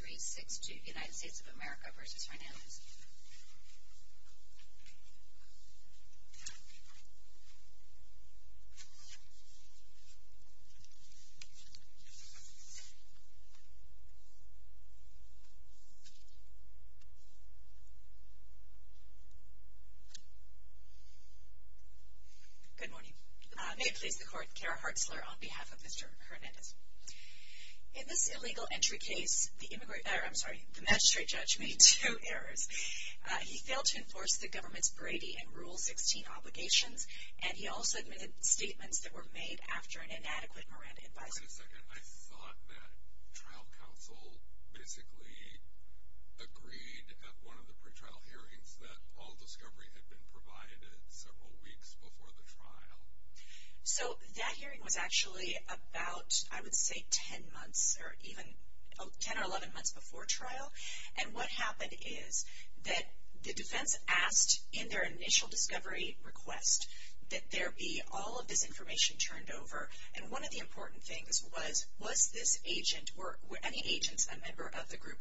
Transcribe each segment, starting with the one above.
23-2362 United States of America v. Hernandez In this illegal entry case, the magistrate judge made two errors. He failed to enforce the government's Brady and Rule 16 obligations, and he also admitted statements that were made after an inadequate Miranda advisory. The defense asked in their initial discovery request that there be all of this information turned over, and one of the important things was, was this agent, were any agents, a member of the group?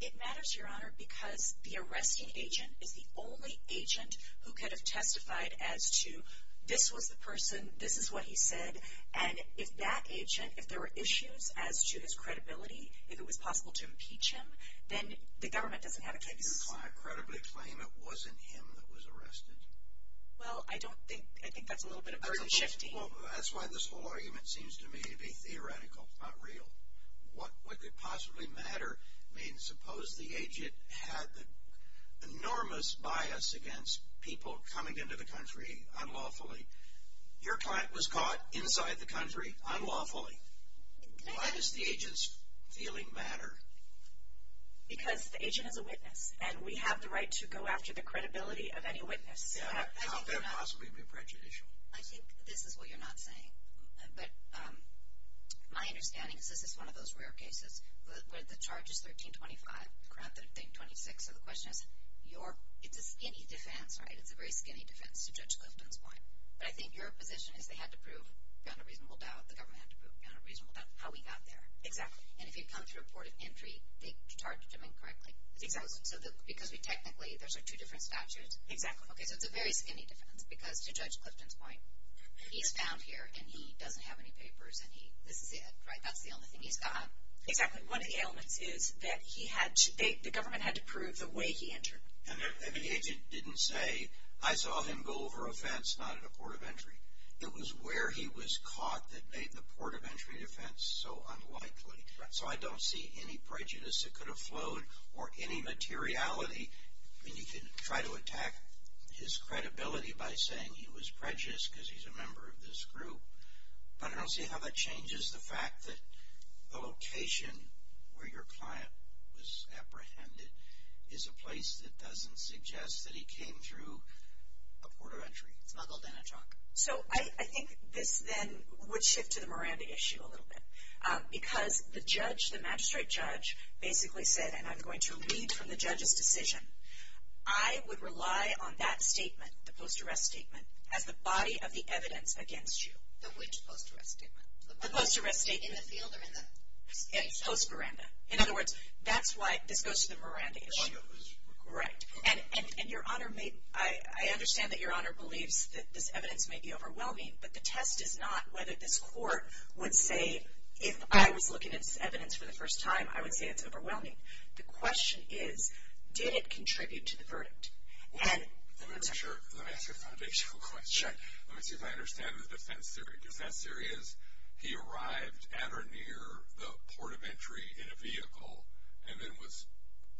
It matters, Your Honor, because the arresting agent is the only agent who could have testified as to, this was the person, this is what he said, and if that agent, if there were issues as to his credibility, if it was possible to impeach him, then the government doesn't have a case. Do you credibly claim it wasn't him that was arrested? Well, I don't think, I think that's a little bit of a shift. That's why this whole argument seems to me to be theoretical, not real. What could possibly matter? I mean, suppose the agent had enormous bias against people coming into the country unlawfully. Your client was caught inside the country unlawfully. Why does the agent's feeling matter? Because the agent is a witness, and we have the right to go after the credibility of any witness. Yeah, how could it possibly be prejudicial? I think this is what you're not saying, but my understanding is this is one of those rare cases where the charge is 1325, the crime 1326, so the question is, it's a skinny defense, right? It's a very skinny defense to Judge Clifton's point. But I think your position is they had to prove, beyond a reasonable doubt, the government had to prove, beyond a reasonable doubt, how we got there. Exactly. And if he'd come through a port of entry, they'd charge him incorrectly. Exactly. So because we technically, those are two different statutes. Exactly. Okay, so it's a very skinny defense, because to Judge Clifton's point, he's found here and he doesn't have any papers and he, this is it, right? That's the only thing he's got. Exactly. One of the elements is that he had to, the government had to prove the way he entered. And the agent didn't say, I saw him go over a fence, not at a port of entry. It was where he was caught that made the port of entry defense so unlikely. Right. So I don't see any prejudice that could have flowed or any materiality. I mean, you could try to attack his credibility by saying he was prejudiced because he's a member of this group. But I don't see how that changes the fact that the location where your client was apprehended is a place that doesn't suggest that he came through a port of entry. It's not called an attack. So I think this then would shift to the Miranda issue a little bit. Because the judge, the I would rely on that statement, the post-arrest statement, as the body of the evidence against you. The which post-arrest statement? The post-arrest statement. In the field or in the case? Post-Miranda. In other words, that's why this goes to the Miranda issue. The one that was recorded. Right. And your Honor may, I understand that your Honor believes that this evidence may be overwhelming. But the test is not whether this court would say, if I was looking at this evidence for the first time, I would say it's overwhelming. The question is, did it contribute to the verdict? Let me ask you a foundational question. Let me see if I understand the defense theory. Defense theory is, he arrived at or near the port of entry in a vehicle and then was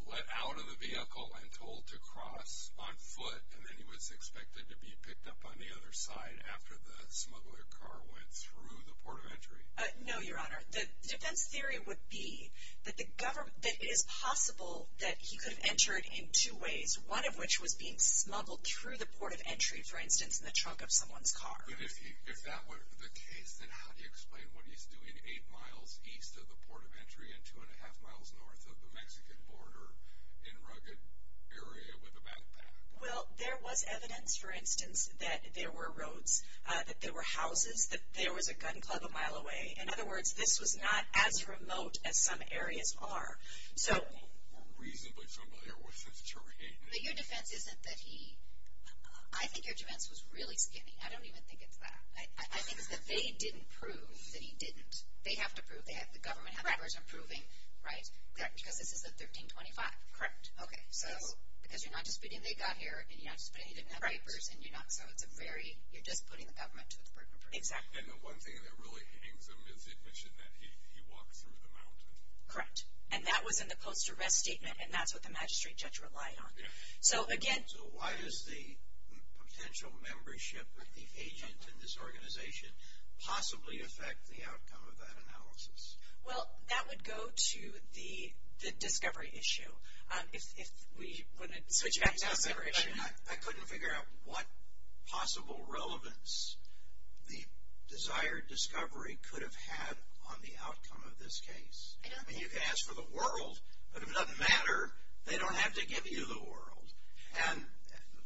let out of the vehicle and told to cross on foot. And then he was expected to be picked up on the other side after the smuggler car went through the port of entry. No, your Honor. The defense theory would be that the government, that it is possible that he could have entered in two ways. One of which was being smuggled through the port of entry, for instance, in the trunk of someone's car. But if that were the case, then how do you explain what he's doing eight miles east of the port of entry and two and a half miles north of the Mexican border in a rugged area with a backpack? Well, there was evidence, for instance, that there were roads, that there were houses, that there was a gun club a mile away. In other words, this was not as remote as some areas are. We're reasonably familiar with this terrain. But your defense isn't that he, I think your defense was really skinny. I don't even think it's that. I think it's that they didn't prove that he didn't. They have to prove, the government have papers proving, right? Because this is a 1325. Correct. Okay, so because you're not disputing they got here and you're not disputing they didn't have papers and you're not, so it's a very, you're just putting the government to the burden of proof. Exactly. And the one thing that really hangs amidst the admission that he walked through the mountain. Correct. And that was in the post-arrest statement and that's what the magistrate judge relied on. So again. So why does the potential membership of the agent in this organization possibly affect the outcome of that analysis? Well, that would go to the discovery issue. If we want to switch back to the discovery issue. I couldn't figure out what possible relevance the desired discovery could have had on the outcome of this case. I know. I mean, you can ask for the world, but if it doesn't matter, they don't have to give you the world. And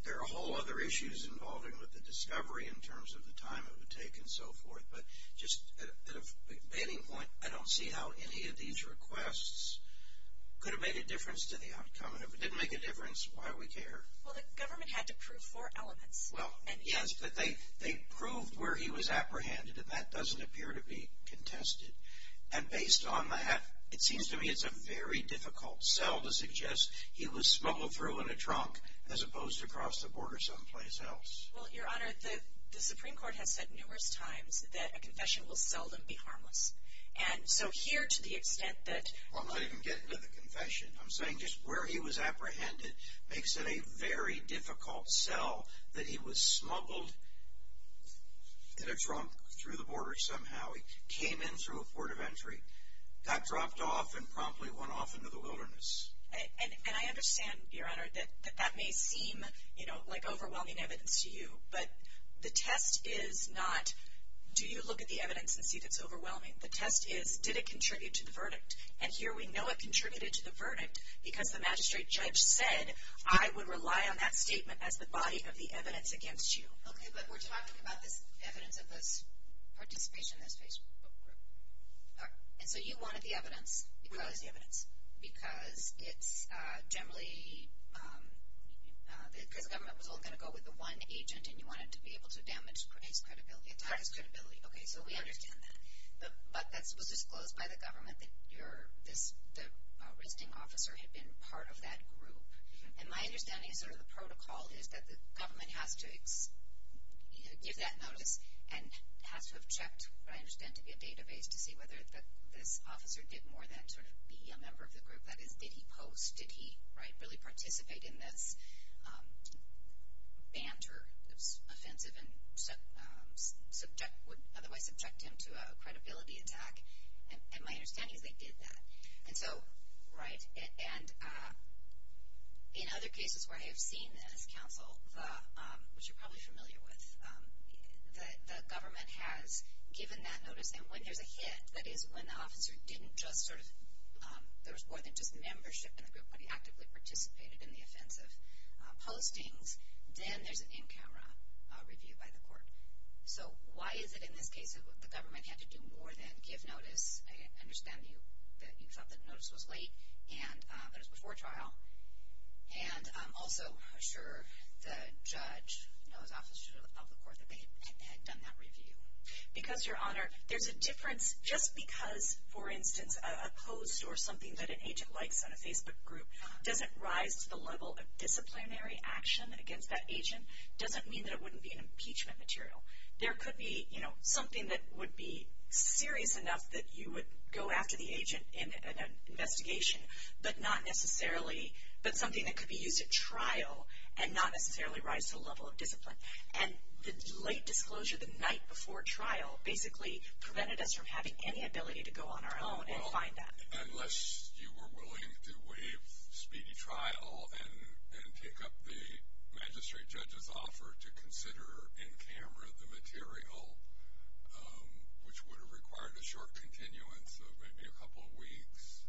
there are a whole other issues involving with the discovery in terms of the time it would take and so forth. But just at a beginning point, I don't see how any of these requests could have made a difference to the outcome. And if it didn't make a difference, why would we care? Well, the government had to prove four elements. Well, and yes, but they proved where he was apprehended and that doesn't appear to be contested. And based on that, it seems to me it's a very difficult cell to suggest he was smuggled through in a trunk as opposed to across the border someplace else. Well, Your Honor, the Supreme Court has said numerous times that a confession will seldom be harmless. And so here to the extent that... Well, I'm not even getting to the confession. I'm saying just where he was apprehended makes it a very difficult cell that he was smuggled in a trunk through the border somehow. He came in through a port of entry, got dropped off, and promptly went off into the wilderness. And I understand, Your Honor, that that may seem like overwhelming evidence to you, but the test is not do you look at the evidence and see that it's overwhelming? The test is did it contribute to the verdict? And here we know it contributed to the verdict because the magistrate judge said I would rely on that statement as the body of the evidence against you. Okay, but we're talking about this evidence of his participation in this Facebook group. And so you wanted the evidence. We wanted the evidence. Because it's generally... because the government was only going to go with the one agent and you wanted to be able to damage his credibility, attack his credibility. Okay, so we understand that. But that was disclosed by the government that the arresting officer had been part of that group. And my understanding is sort of the protocol is that the government has to give that notice and has to have checked what I understand to be a database to see whether this officer did more than sort of be a member of the group. That is, did he post? Did he really participate in this banter that's offensive and would otherwise subject him to a credibility attack? And my understanding is they did that. And so, right, and in other cases where I have seen this counsel, which you're probably familiar with, the government has given that notice. And when there's a hit, that is when the officer didn't just sort of... there was more than just membership in the group, but he actively participated in the offensive postings, then there's an in-camera review by the court. So why is it that in this case the government had to do more than give notice? I understand that you thought that notice was late and that it was before trial. And I'm also sure the judge, you know, his office should have told the court that they had done that review. Because, Your Honor, there's a difference just because, for instance, a post or something that an agent likes on a Facebook group doesn't rise to the level of disciplinary action against that agent doesn't mean that it wouldn't be an impeachment material. There could be, you know, something that would be serious enough that you would go after the agent in an investigation, but not necessarily... but something that could be used at trial and not necessarily rise to the level of discipline. And the late disclosure the night before trial basically prevented us from having any ability to go on our own and find that. Unless you were willing to waive speedy trial and take up the magistrate judge's offer to consider in camera the material, which would have required a short continuance of maybe a couple of weeks.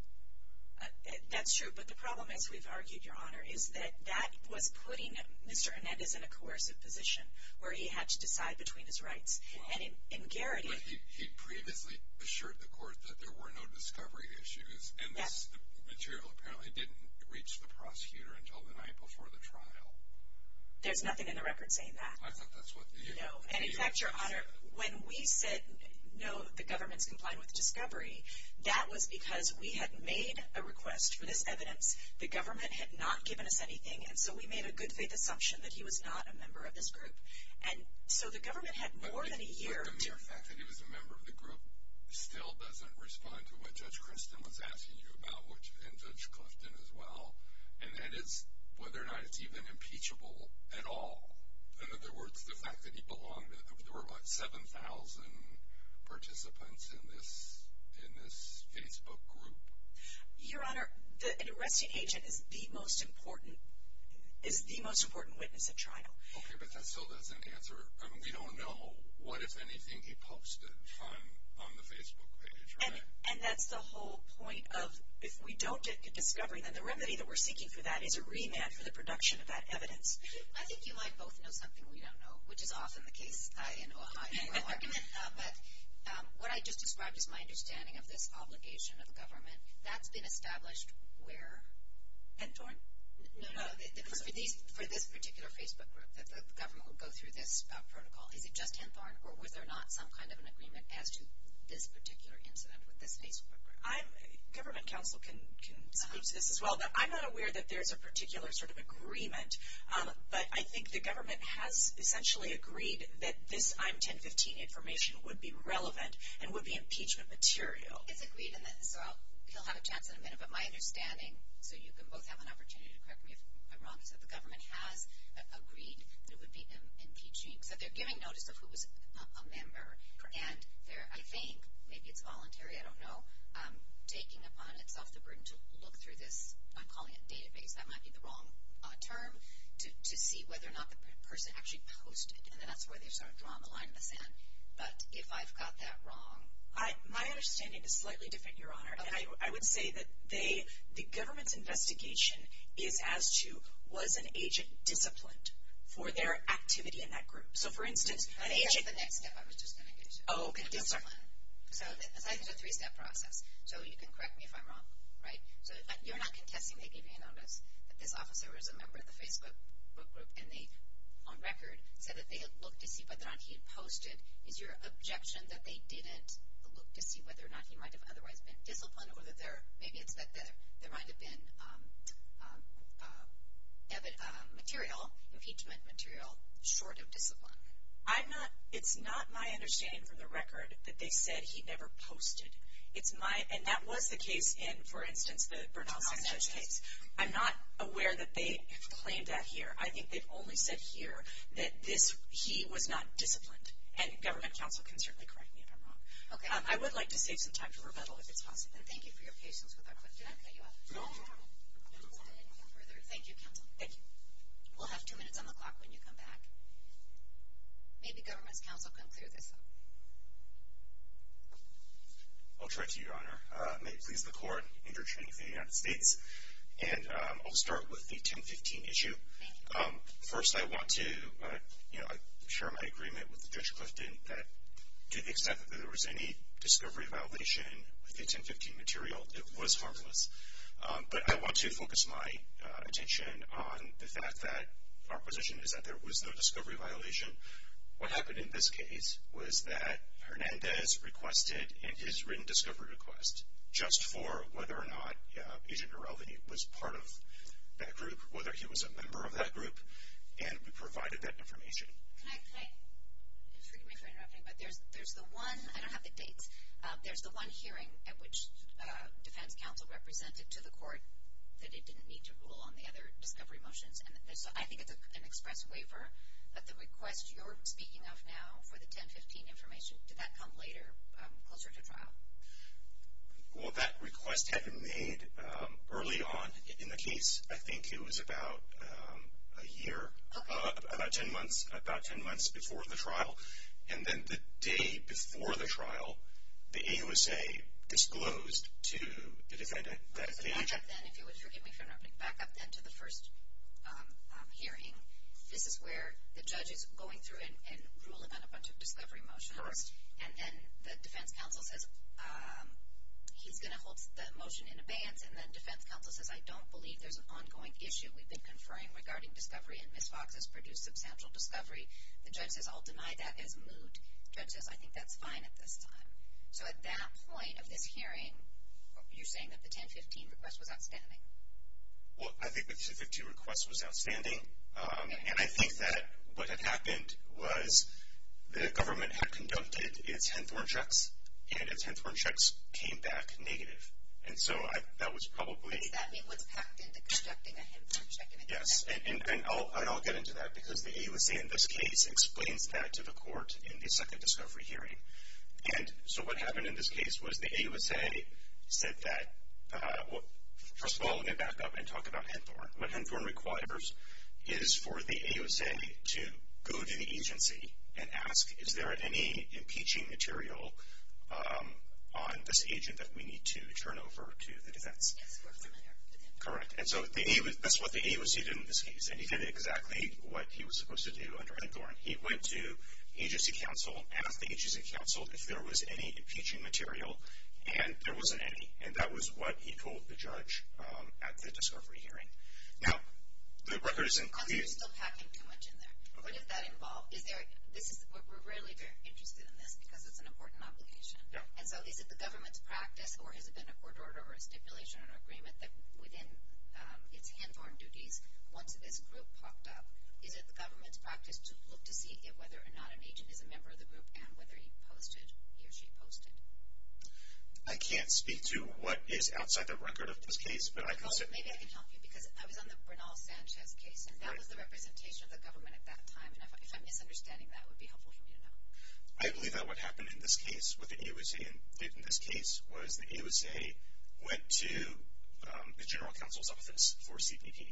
That's true. But the problem, as we've argued, Your Honor, is that that was putting Mr. Hernandez in a coercive position where he had to decide between his rights. And in Garrity... But he'd previously assured the court that there were no discovery issues. Yes. And this material apparently didn't reach the prosecutor until the night before the trial. There's nothing in the record saying that. I thought that's what... No. And in fact, Your Honor, when we said, no, the government's complying with discovery, that was because we had made a request for this evidence. The government had not given us anything, and so we made a good faith assumption that he was not a member of this group. And so the government had more than a year to... The fact that he was a member of the group still doesn't respond to what Judge Christin was asking you about, and Judge Clifton as well, and that is whether or not it's even impeachable at all. In other words, the fact that he belonged to... There were, what, 7,000 participants in this Facebook group? Your Honor, an arresting agent is the most important witness at trial. Okay, but that still doesn't answer... We don't know what, if anything, he posted on the Facebook page, right? And that's the whole point of, if we don't get to discovery, then the remedy that we're seeking for that is a remand for the production of that evidence. I think you might both know something we don't know, which is often the case. I know a high and low argument. But what I just described is my understanding of this obligation of government. That's been established where? Henthorne? No, no. For this particular Facebook group, that the government would go through this protocol, is it just Henthorne, or was there not some kind of an agreement as to this particular incident with this Facebook group? Government counsel can speak to this as well, but I'm not aware that there's a particular sort of agreement. But I think the government has essentially agreed that this I'm 1015 information would be relevant and would be impeachment material. It's agreed, and so he'll have a chance in a minute. But my understanding, so you can both have an opportunity to correct me if I'm wrong, is that the government has agreed that it would be impeachment. So they're giving notice of who was a member. And they're, I think, maybe it's voluntary, I don't know, taking upon itself the burden to look through this, I'm calling it database, that might be the wrong term, to see whether or not the person actually posted. And then that's where they sort of draw the line in the sand. But if I've got that wrong. My understanding is slightly different, Your Honor. And I would say that they, the government's investigation is as to was an agent disciplined for their activity in that group? So for instance, an agent. That's the next step I was just going to get to. Oh, okay. Discipline. So it's actually a three-step process. So you can correct me if I'm wrong, right? So you're not contesting they gave you a notice that this officer was a member of the Facebook group, and they, on record, said that they looked to see whether or not he had posted. Is your objection that they didn't look to see whether or not he might have otherwise been disciplined, or that there, maybe it's that there might have been evident material, impeachment material, short of discipline? I'm not, it's not my understanding from the record that they said he never posted. It's my, and that was the case in, for instance, the Bernal Sanchez case. I'm not aware that they claimed that here. I think they've only said here that this, he was not disciplined. And government counsel can certainly correct me if I'm wrong. Okay. I would like to save some time for rebuttal, if it's possible. And thank you for your patience with our question. Did I cut you off? No, no. I didn't go further. Thank you, counsel. Thank you. We'll have two minutes on the clock when you come back. Maybe government's counsel can clear this up. I'll try to, Your Honor. May it please the Court, Interim Chief of the United States. And I'll start with the 1015 issue. Thank you. First, I want to, you know, share my agreement with Judge Clifton that to the extent that there was any discovery violation with the 1015 material, it was harmless. But I want to focus my attention on the fact that our position is that there was no discovery violation. What happened in this case was that Hernandez requested in his written discovery request, just for whether or not Agent Norelveni was part of that group, whether he was a member of that group, and we provided that information. Can I, if you'll excuse me for interrupting, but there's the one, I don't have the dates, there's the one hearing at which defense counsel represented to the court that it didn't need to rule on the other discovery motions. And so I think it's an express waiver, but the request you're speaking of now for the 1015 information, did that come later, closer to trial? Well, that request had been made early on in the case. I think it was about a year, about 10 months, about 10 months before the trial. And then the day before the trial, the AUSA disclosed to the defendant that the agent Back up then, if you would forgive me for interrupting, back up then to the first hearing. This is where the judge is going through and ruling on a bunch of discovery motions. And then the defense counsel says he's going to hold the motion in abeyance, and then defense counsel says I don't believe there's an ongoing issue we've been conferring regarding discovery, and Ms. Fox has produced substantial discovery. The judge says I'll deny that as moot. The judge says I think that's fine at this time. So at that point of this hearing, you're saying that the 1015 request was outstanding? Well, I think the 1015 request was outstanding. And I think that what had happened was the government had conducted its Henthorne checks, and its Henthorne checks came back negative. And so that was probably... Does that mean what's packed into conducting a Henthorne check in a 1015? Yes. And I'll get into that because the AUSA in this case explains that to the court in the second discovery hearing. And so what happened in this case was the AUSA said that, first of all, let me back up and talk about Henthorne. What Henthorne requires is for the AUSA to go to the agency and ask, is there any impeaching material on this agent that we need to turn over to the defense? Correct. And so that's what the AUSA did in this case. And he did exactly what he was supposed to do under Henthorne. He went to agency counsel, asked the agency counsel if there was any impeaching material, and there wasn't any. And that was what he told the judge at the discovery hearing. Now, the record isn't clear. You're still packing too much in there. Okay. What does that involve? We're really very interested in this because it's an important obligation. Yeah. And so is it the government's practice or has it been a court order or a stipulation or an agreement that within its Henthorne duties, once this group popped up, is it the government's practice to look to see whether or not an agent is a member of the group and whether he posted, he or she posted? I can't speak to what is outside the record of this case. Maybe I can help you because I was on the Bernal Sanchez case, and that was the representation of the government at that time. And if I'm misunderstanding that, it would be helpful for me to know. I believe that what happened in this case with the AUSA in this case was the AUSA went to the general counsel's office for CPD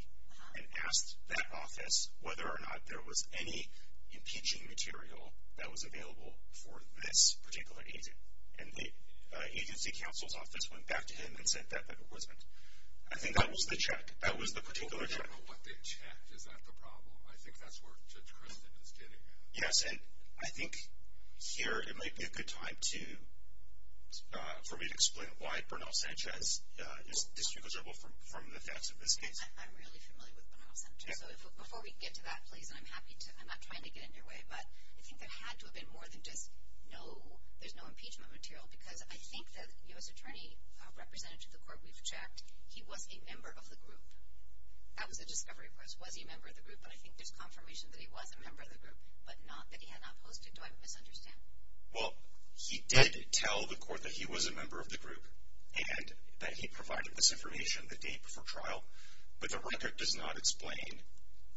and asked that office whether or not there was any impeaching material that was available for this particular agent. And the agency counsel's office went back to him and said that there wasn't. I think that was the check. That was the particular check. I don't know what they checked. Is that the problem? I think that's where Judge Christin is getting at. Yes. And I think here it might be a good time for me to explain why Bernal Sanchez is disrespectful from the facts of this case. I'm really familiar with Bernal Sanchez. So before we get to that, please, and I'm happy to, I'm not trying to get in your way, but I think there had to have been more than just no, there's no impeachment material because I think the U.S. attorney representative to the court we've checked, he was a member of the group. That was a discovery request. Was he a member of the group? But I think there's confirmation that he was a member of the group, but not that he had not posted. Do I misunderstand? Well, he did tell the court that he was a member of the group and that he provided this information the day before trial, but the record does not explain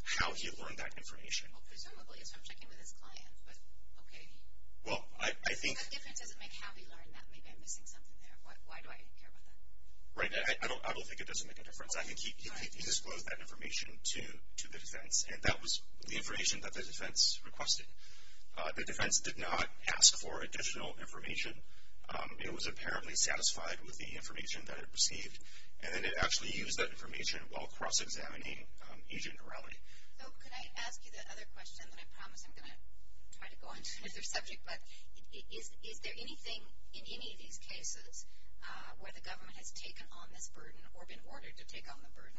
how he learned that information. Well, presumably, so I'm checking with his client, but okay. Well, I think. That difference doesn't make how he learned that. Maybe I'm missing something there. Why do I care about that? Right. I don't think it doesn't make a difference. I think he disclosed that information to the defense, and that was the information that the defense requested. The defense did not ask for additional information. It was apparently satisfied with the information that it received, and then it actually used that information while cross-examining Agent Norelli. So, can I ask you the other question, and I promise I'm going to try to go on to another subject, but is there anything in any of these cases where the government has taken on this burden or been ordered to take on the burden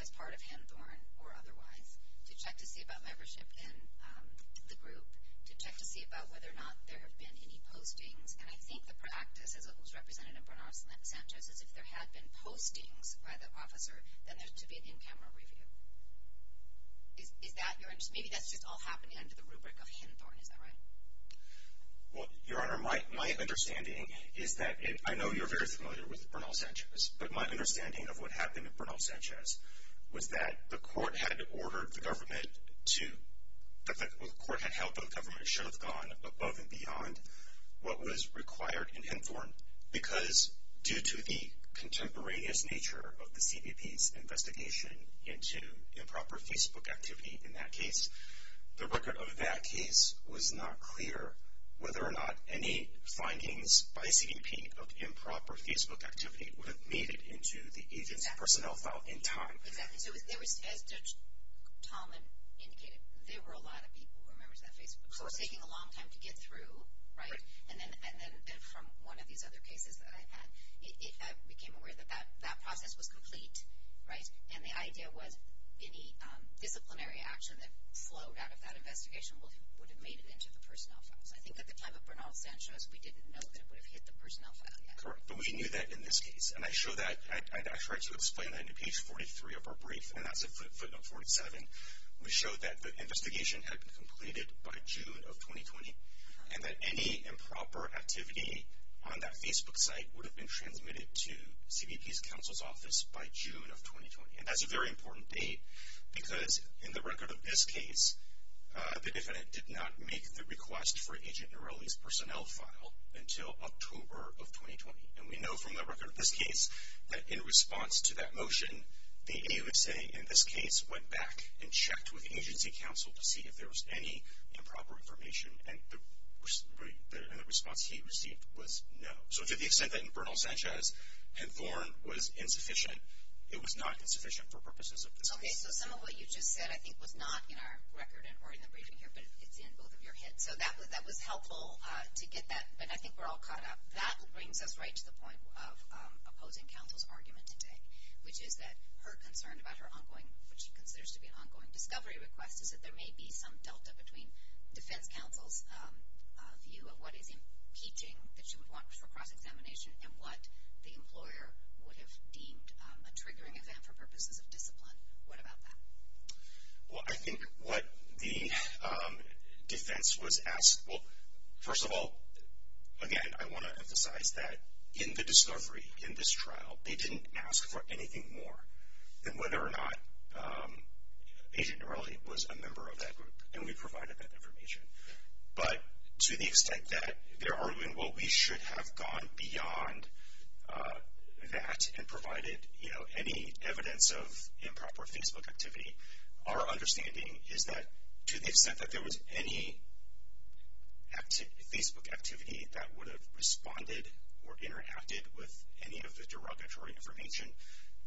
as part of Hamthorne or otherwise, to check to see about membership in the group, to check to see about whether or not there have been any postings? And I think the practice, as it was represented in Bernard Santos, is if there had been postings by the officer, then there should be an in-camera review. Is that your understanding? Maybe that's just all happening under the rubric of Hamthorne. Is that right? Well, Your Honor, my understanding is that I know you're very familiar with Bernal Sanchez, but my understanding of what happened in Bernal Sanchez was that the court had ordered the government to – the court had held that the government should have gone above and beyond what was required in Hamthorne because due to the contemporaneous nature of the CBP's investigation into improper Facebook activity in that case, the record of that case was not clear whether or not any findings by CBP of improper Facebook activity would have made it into the agent's personnel file in time. Exactly. So there was – as Judge Tallman indicated, there were a lot of people who were members of that Facebook. So it's taking a long time to get through, right? Right. And then from one of these other cases that I've had, I became aware that that process was complete, right? And the idea was any disciplinary action that flowed out of that investigation would have made it into the personnel file. So I think at the time of Bernal Sanchez, we didn't know that it would have hit the personnel file yet. Correct. But we knew that in this case. And I show that – I tried to explain that in page 43 of our brief, and that's at footnote 47. We showed that the investigation had been completed by June of 2020 and that any improper activity on that Facebook site would have been transmitted to CBP's counsel's office by June of 2020. And that's a very important date because in the record of this case, the defendant did not make the request for Agent Norelli's personnel file until October of 2020. And we know from the record of this case that in response to that motion, the AUSA in this case went back and checked with agency counsel to see if there was any improper information, and the response he received was no. So to the extent that in Bernal Sanchez and Thorne was insufficient, it was not insufficient for purposes of this case. Okay, so some of what you just said I think was not in our record or in the briefing here, but it's in both of your hits. So that was helpful to get that, but I think we're all caught up. That brings us right to the point of opposing counsel's argument today, which is that her concern about her ongoing, what she considers to be an ongoing discovery request, is that there may be some delta between defense counsel's view of what is impeaching that she would want for cross-examination and what the employer would have deemed a triggering event for purposes of discipline. What about that? Well, I think what the defense was asked, well, first of all, again, I want to emphasize that in the discovery, in this trial, they didn't ask for anything more than whether or not Agent Norelli was a member of that group, and we provided that information. But to the extent that they're arguing, well, we should have gone beyond that and provided any evidence of improper Facebook activity, our understanding is that to the extent that there was any Facebook activity that would have responded or interacted with any of the derogatory information,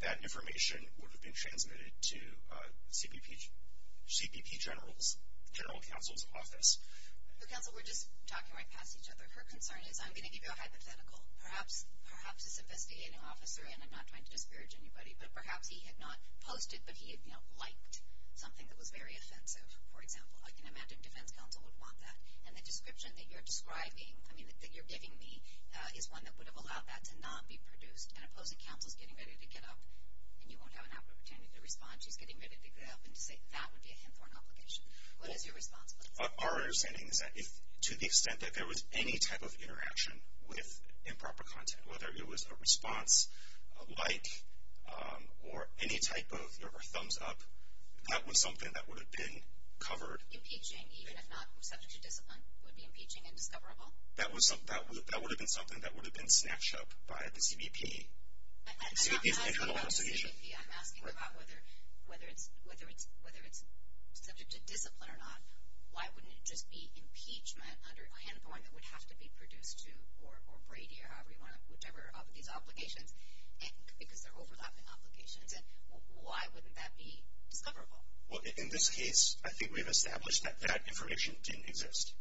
that information would have been transmitted to CPP General Counsel's office. Counsel, we're just talking right past each other. Her concern is, I'm going to give you a hypothetical. Perhaps this investigating officer, and I'm not trying to disparage anybody, but perhaps he had not posted, but he had, you know, liked something that was very offensive, for example. I can imagine defense counsel would want that. And the description that you're describing, I mean, that you're giving me, is one that would have allowed that to not be produced. And opposing counsel is getting ready to get up, and you won't have an opportunity to respond. She's getting ready to get up and to say that would be a Hinthorn obligation. What is your response? Our understanding is that to the extent that there was any type of interaction with improper content, whether it was a response, a like, or any type of thumbs up, that was something that would have been covered. Impeaching, even if not subject to discipline, would be impeaching and discoverable? That would have been something that would have been snatched up by the CBP. I'm not asking about the CBP. I'm asking about whether it's subject to discipline or not. Why wouldn't it just be impeachment under a Hinthorn that would have to be produced to, or Brady, or however you want to, whichever of these obligations, because they're overlapping obligations. And why wouldn't that be discoverable? Well, in this case, I think we've established that that information didn't exist.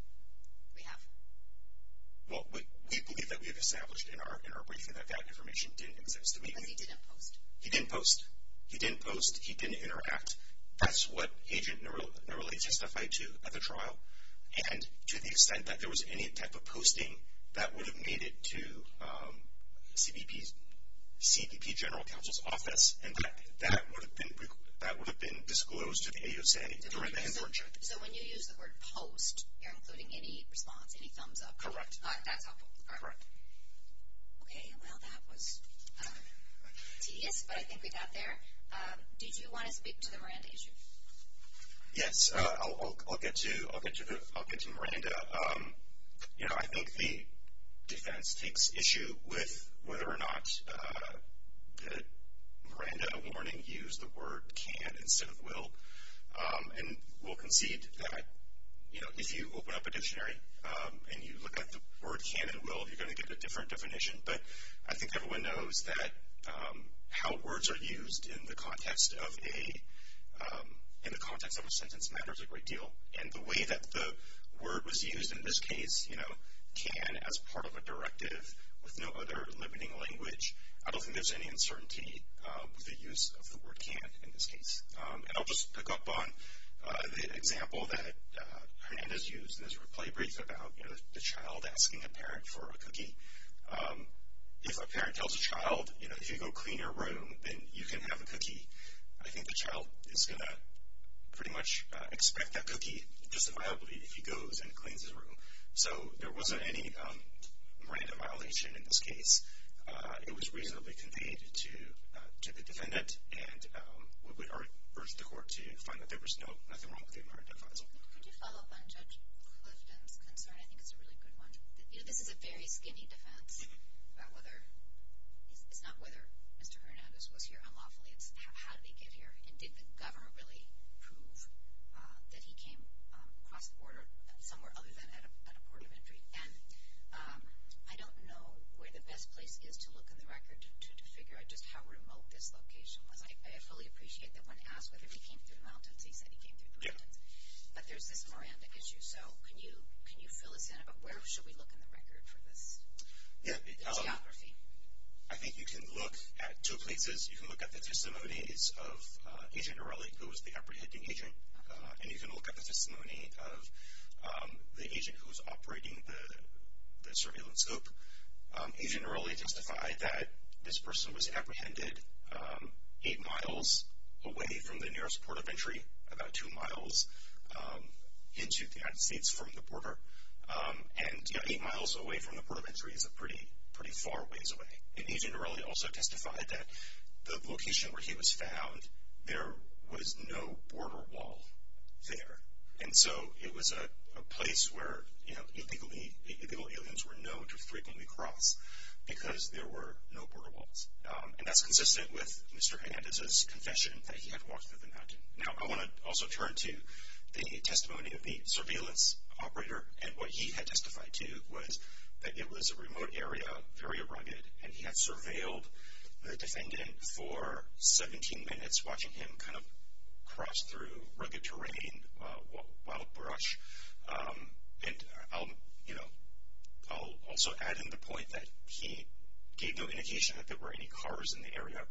We have. Well, we believe that we've established in our briefing that that information didn't exist. Because he didn't post. He didn't post. He didn't post. He didn't interact. That's what Agent Norelli testified to at the trial. And to the extent that there was any type of posting, that would have made it to CBP General Counsel's office, and that would have been disclosed to the AUSA during the Hinthorn check. So when you use the word post, you're including any response, any thumbs up? Correct. That's helpful. Correct. Okay. Well, that was tedious, but I think we got there. Did you want to speak to the Miranda issue? Yes. I'll get to Miranda. You know, I think the defense takes issue with whether or not the Miranda warning used the word can instead of will. And we'll concede that, you know, if you open up a dictionary and you look at the word can and will, you're going to get a different definition. But I think everyone knows that how words are used in the context of a sentence matters a great deal. And the way that the word was used in this case, you know, can as part of a directive with no other limiting language, I don't think there's any uncertainty with the use of the word can in this case. And I'll just pick up on the example that Hernandez used in his replay brief about, you know, the child asking a parent for a cookie. If a parent tells a child, you know, if you go clean your room, then you can have a cookie, I think the child is going to pretty much expect that cookie just inviolably if he goes and cleans his room. So there wasn't any Miranda violation in this case. It was reasonably conveyed to the defendant, and we urge the court to find that there was nothing wrong with the Miranda defense. Could you follow up on Judge Clifton's concern? I think it's a really good one. You know, this is a very skinny defense about whether it's not whether Mr. Hernandez was here unlawfully, it's how did he get here, and did the government really prove that he came across the border somewhere other than at a port of entry? And I don't know where the best place is to look in the record to figure out just how remote this location was. I fully appreciate that when asked whether he came through the mountains, he said he came through the mountains. But there's this Miranda issue. So can you fill us in about where should we look in the record for this geography? I think you can look at two places. You can look at the testimonies of Agent O'Reilly, who was the apprehending agent, and you can look at the testimony of the agent who was operating the surveillance scope. Agent O'Reilly testified that this person was apprehended eight miles away from the nearest port of entry, about two miles into the United States from the border. And, you know, eight miles away from the port of entry is a pretty far ways away. And Agent O'Reilly also testified that the location where he was found, there was no border wall there. And so it was a place where, you know, apical aliens were known to frequently cross because there were no border walls. And that's consistent with Mr. Hernandez's confession that he had walked through the mountain. Now I want to also turn to the testimony of the surveillance operator, and what he had testified to was that it was a remote area, very rugged, and he had surveilled the defendant for 17 minutes, watching him kind of cross through rugged terrain, wild brush. And, you know, I'll also add in the point that he gave no indication that there were any cars in the area.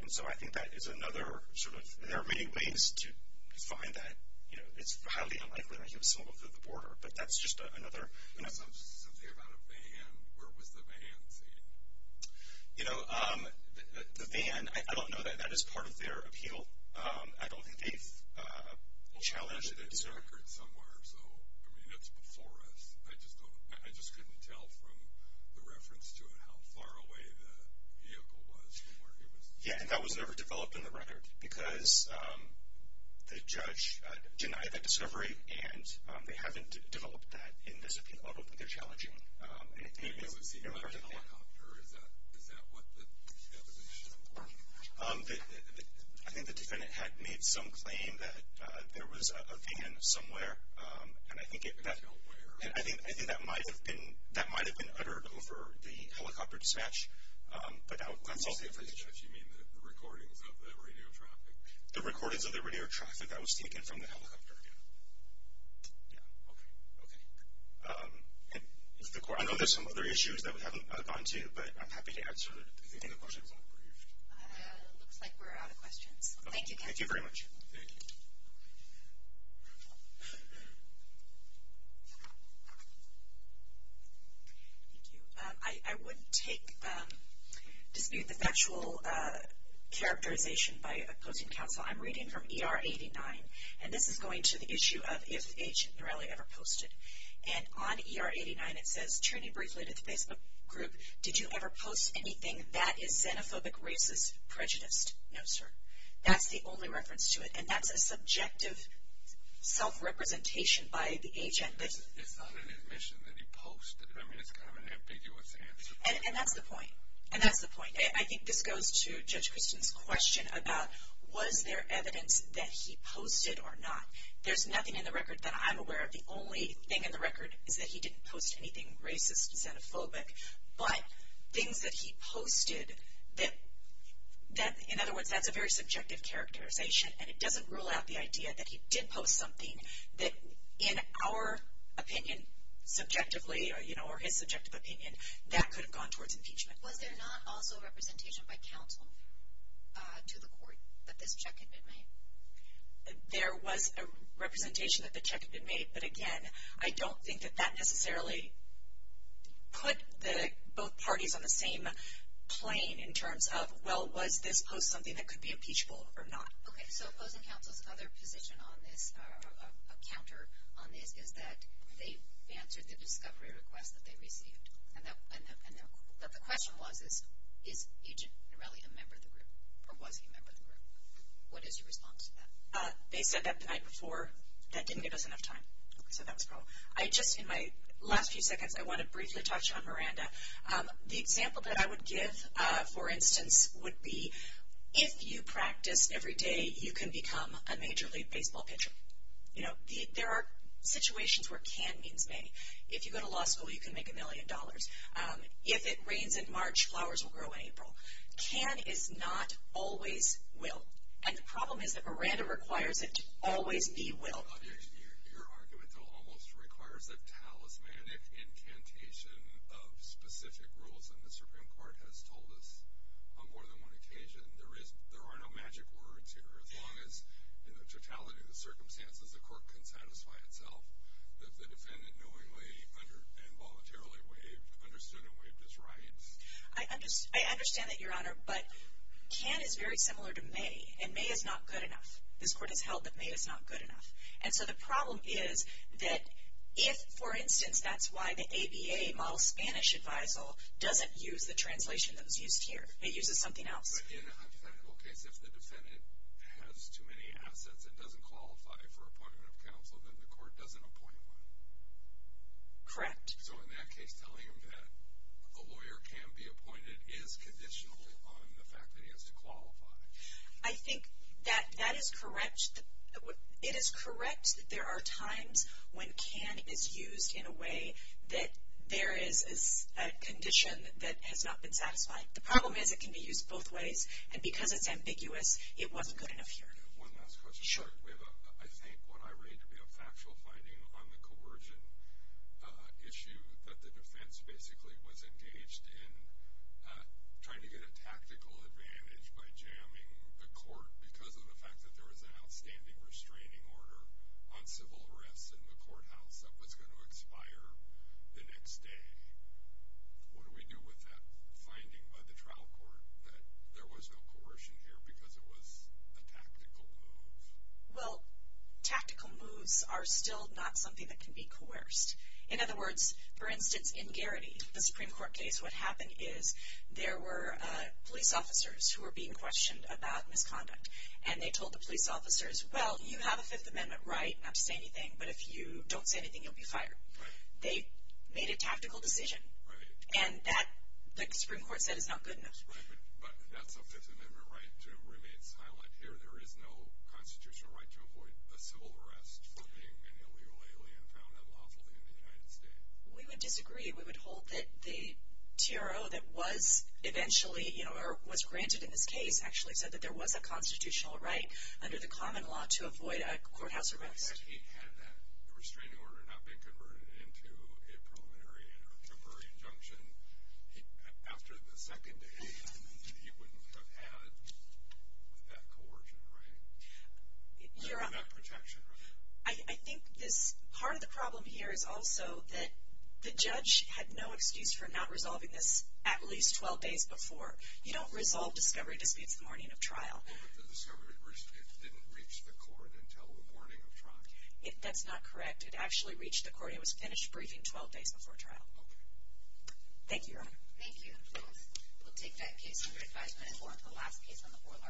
And so I think that is another sort of, there are many ways to define that. You know, it's highly unlikely that he was someone from the border, but that's just another. Something about a van, where was the van seen? You know, the van, I don't know that that is part of their appeal. I don't think they've challenged it. It's a record somewhere, so, I mean, it's before us. I just couldn't tell from the reference to it how far away the vehicle was from where he was. Yeah, and that was never developed in the record, because the judge denied that discovery, and they haven't developed that in this appeal. I don't think they're challenging anything. Was he in a helicopter? Is that what the evidence is for? I think the defendant had made some claim that there was a van somewhere, and I think that might have been uttered over the helicopter dispatch. By dispatch you mean the recordings of the radio traffic? The recordings of the radio traffic that was taken from the helicopter, yeah. Yeah, okay, okay. I know there's some other issues that we haven't gotten to, but I'm happy to answer any questions. Looks like we're out of questions. Thank you. Thank you very much. Thank you. Thank you. I would take, dispute the factual characterization by opposing counsel. I'm reading from ER 89, and this is going to the issue of if Agent Norelli ever posted. And on ER 89 it says, turning briefly to the Facebook group, did you ever post anything that is xenophobic, racist, prejudiced? No, sir. That's the only reference to it, and that's a subjective self-representation by the agent. It's not an admission that he posted. I mean, it's kind of an ambiguous answer. And that's the point. And that's the point. I think this goes to Judge Christian's question about was there evidence that he posted or not. There's nothing in the record that I'm aware of. The only thing in the record is that he didn't post anything racist, xenophobic. But things that he posted that, in other words, that's a very subjective characterization, and it doesn't rule out the idea that he did post something that, in our opinion, subjectively, or his subjective opinion, that could have gone towards impeachment. Was there not also representation by counsel to the court that this check had been made? There was a representation that the check had been made. But, again, I don't think that that necessarily put both parties on the same plane in terms of, well, was this post something that could be impeachable or not? Okay, so opposing counsel's other position on this, a counter on this, is that they answered the discovery request that they received. And the question was, is Agent Norelli a member of the group, or was he a member of the group? What is your response to that? They said that the night before. That didn't give us enough time. So that was wrong. I just, in my last few seconds, I want to briefly touch on Miranda. The example that I would give, for instance, would be if you practice every day, you can become a major league baseball pitcher. You know, there are situations where can means may. If you go to law school, you can make a million dollars. If it rains in March, flowers will grow in April. Can is not always will. And the problem is that Miranda requires it to always be will. Your argument almost requires a talismanic incantation of specific rules, and the Supreme Court has told us on more than one occasion there are no magic words here. As long as, in the totality of the circumstances, the court can satisfy itself that the defendant knowingly and voluntarily understood and waived his rights. I understand that, Your Honor, but can is very similar to may, and may is not good enough. This court has held that may is not good enough. And so the problem is that if, for instance, that's why the ABA model Spanish advisal doesn't use the translation that was used here. It uses something else. But in a hypothetical case, if the defendant has too many assets and doesn't qualify for appointment of counsel, then the court doesn't appoint one. Correct. So in that case, telling him that a lawyer can be appointed is conditional on the fact that he has to qualify. I think that that is correct. It is correct that there are times when can is used in a way that there is a condition that has not been satisfied. The problem is it can be used both ways, and because it's ambiguous, it wasn't good enough here. One last question. We have, I think, what I read to be a factual finding on the coercion issue that the defense basically was engaged in trying to get a tactical advantage by jamming the court because of the fact that there was an outstanding restraining order on civil arrests in the courthouse that was going to expire the next day. What do we do with that finding by the trial court that there was no coercion here because it was a tactical move? Well, tactical moves are still not something that can be coerced. In other words, for instance, in Garrity, the Supreme Court case, what happened is there were police officers who were being questioned about misconduct. And they told the police officers, well, you have a Fifth Amendment right not to say anything, but if you don't say anything, you'll be fired. Right. They made a tactical decision. Right. And that, the Supreme Court said, is not good enough. Right, but that's a Fifth Amendment right to remain silent. Here there is no constitutional right to avoid a civil arrest for being an illegal alien found unlawfully in the United States. We would disagree. We would hold that the TRO that was eventually, you know, or was granted in this case, actually said that there was a constitutional right under the common law to avoid a courthouse arrest. But he had that restraining order not been converted into a preliminary or temporary injunction. After the second day, he wouldn't have had that coercion, right? Not protection, right? I think this, part of the problem here is also that the judge had no excuse for not resolving this at least 12 days before. You don't resolve discovery disputes the morning of trial. Well, but the discovery didn't reach the court until the morning of trial. That's not correct. It actually reached the court. It was finished briefing 12 days before trial. Okay. Thank you, Your Honor. Thank you. We'll take that case under advisement as one of the last cases on the oral argument.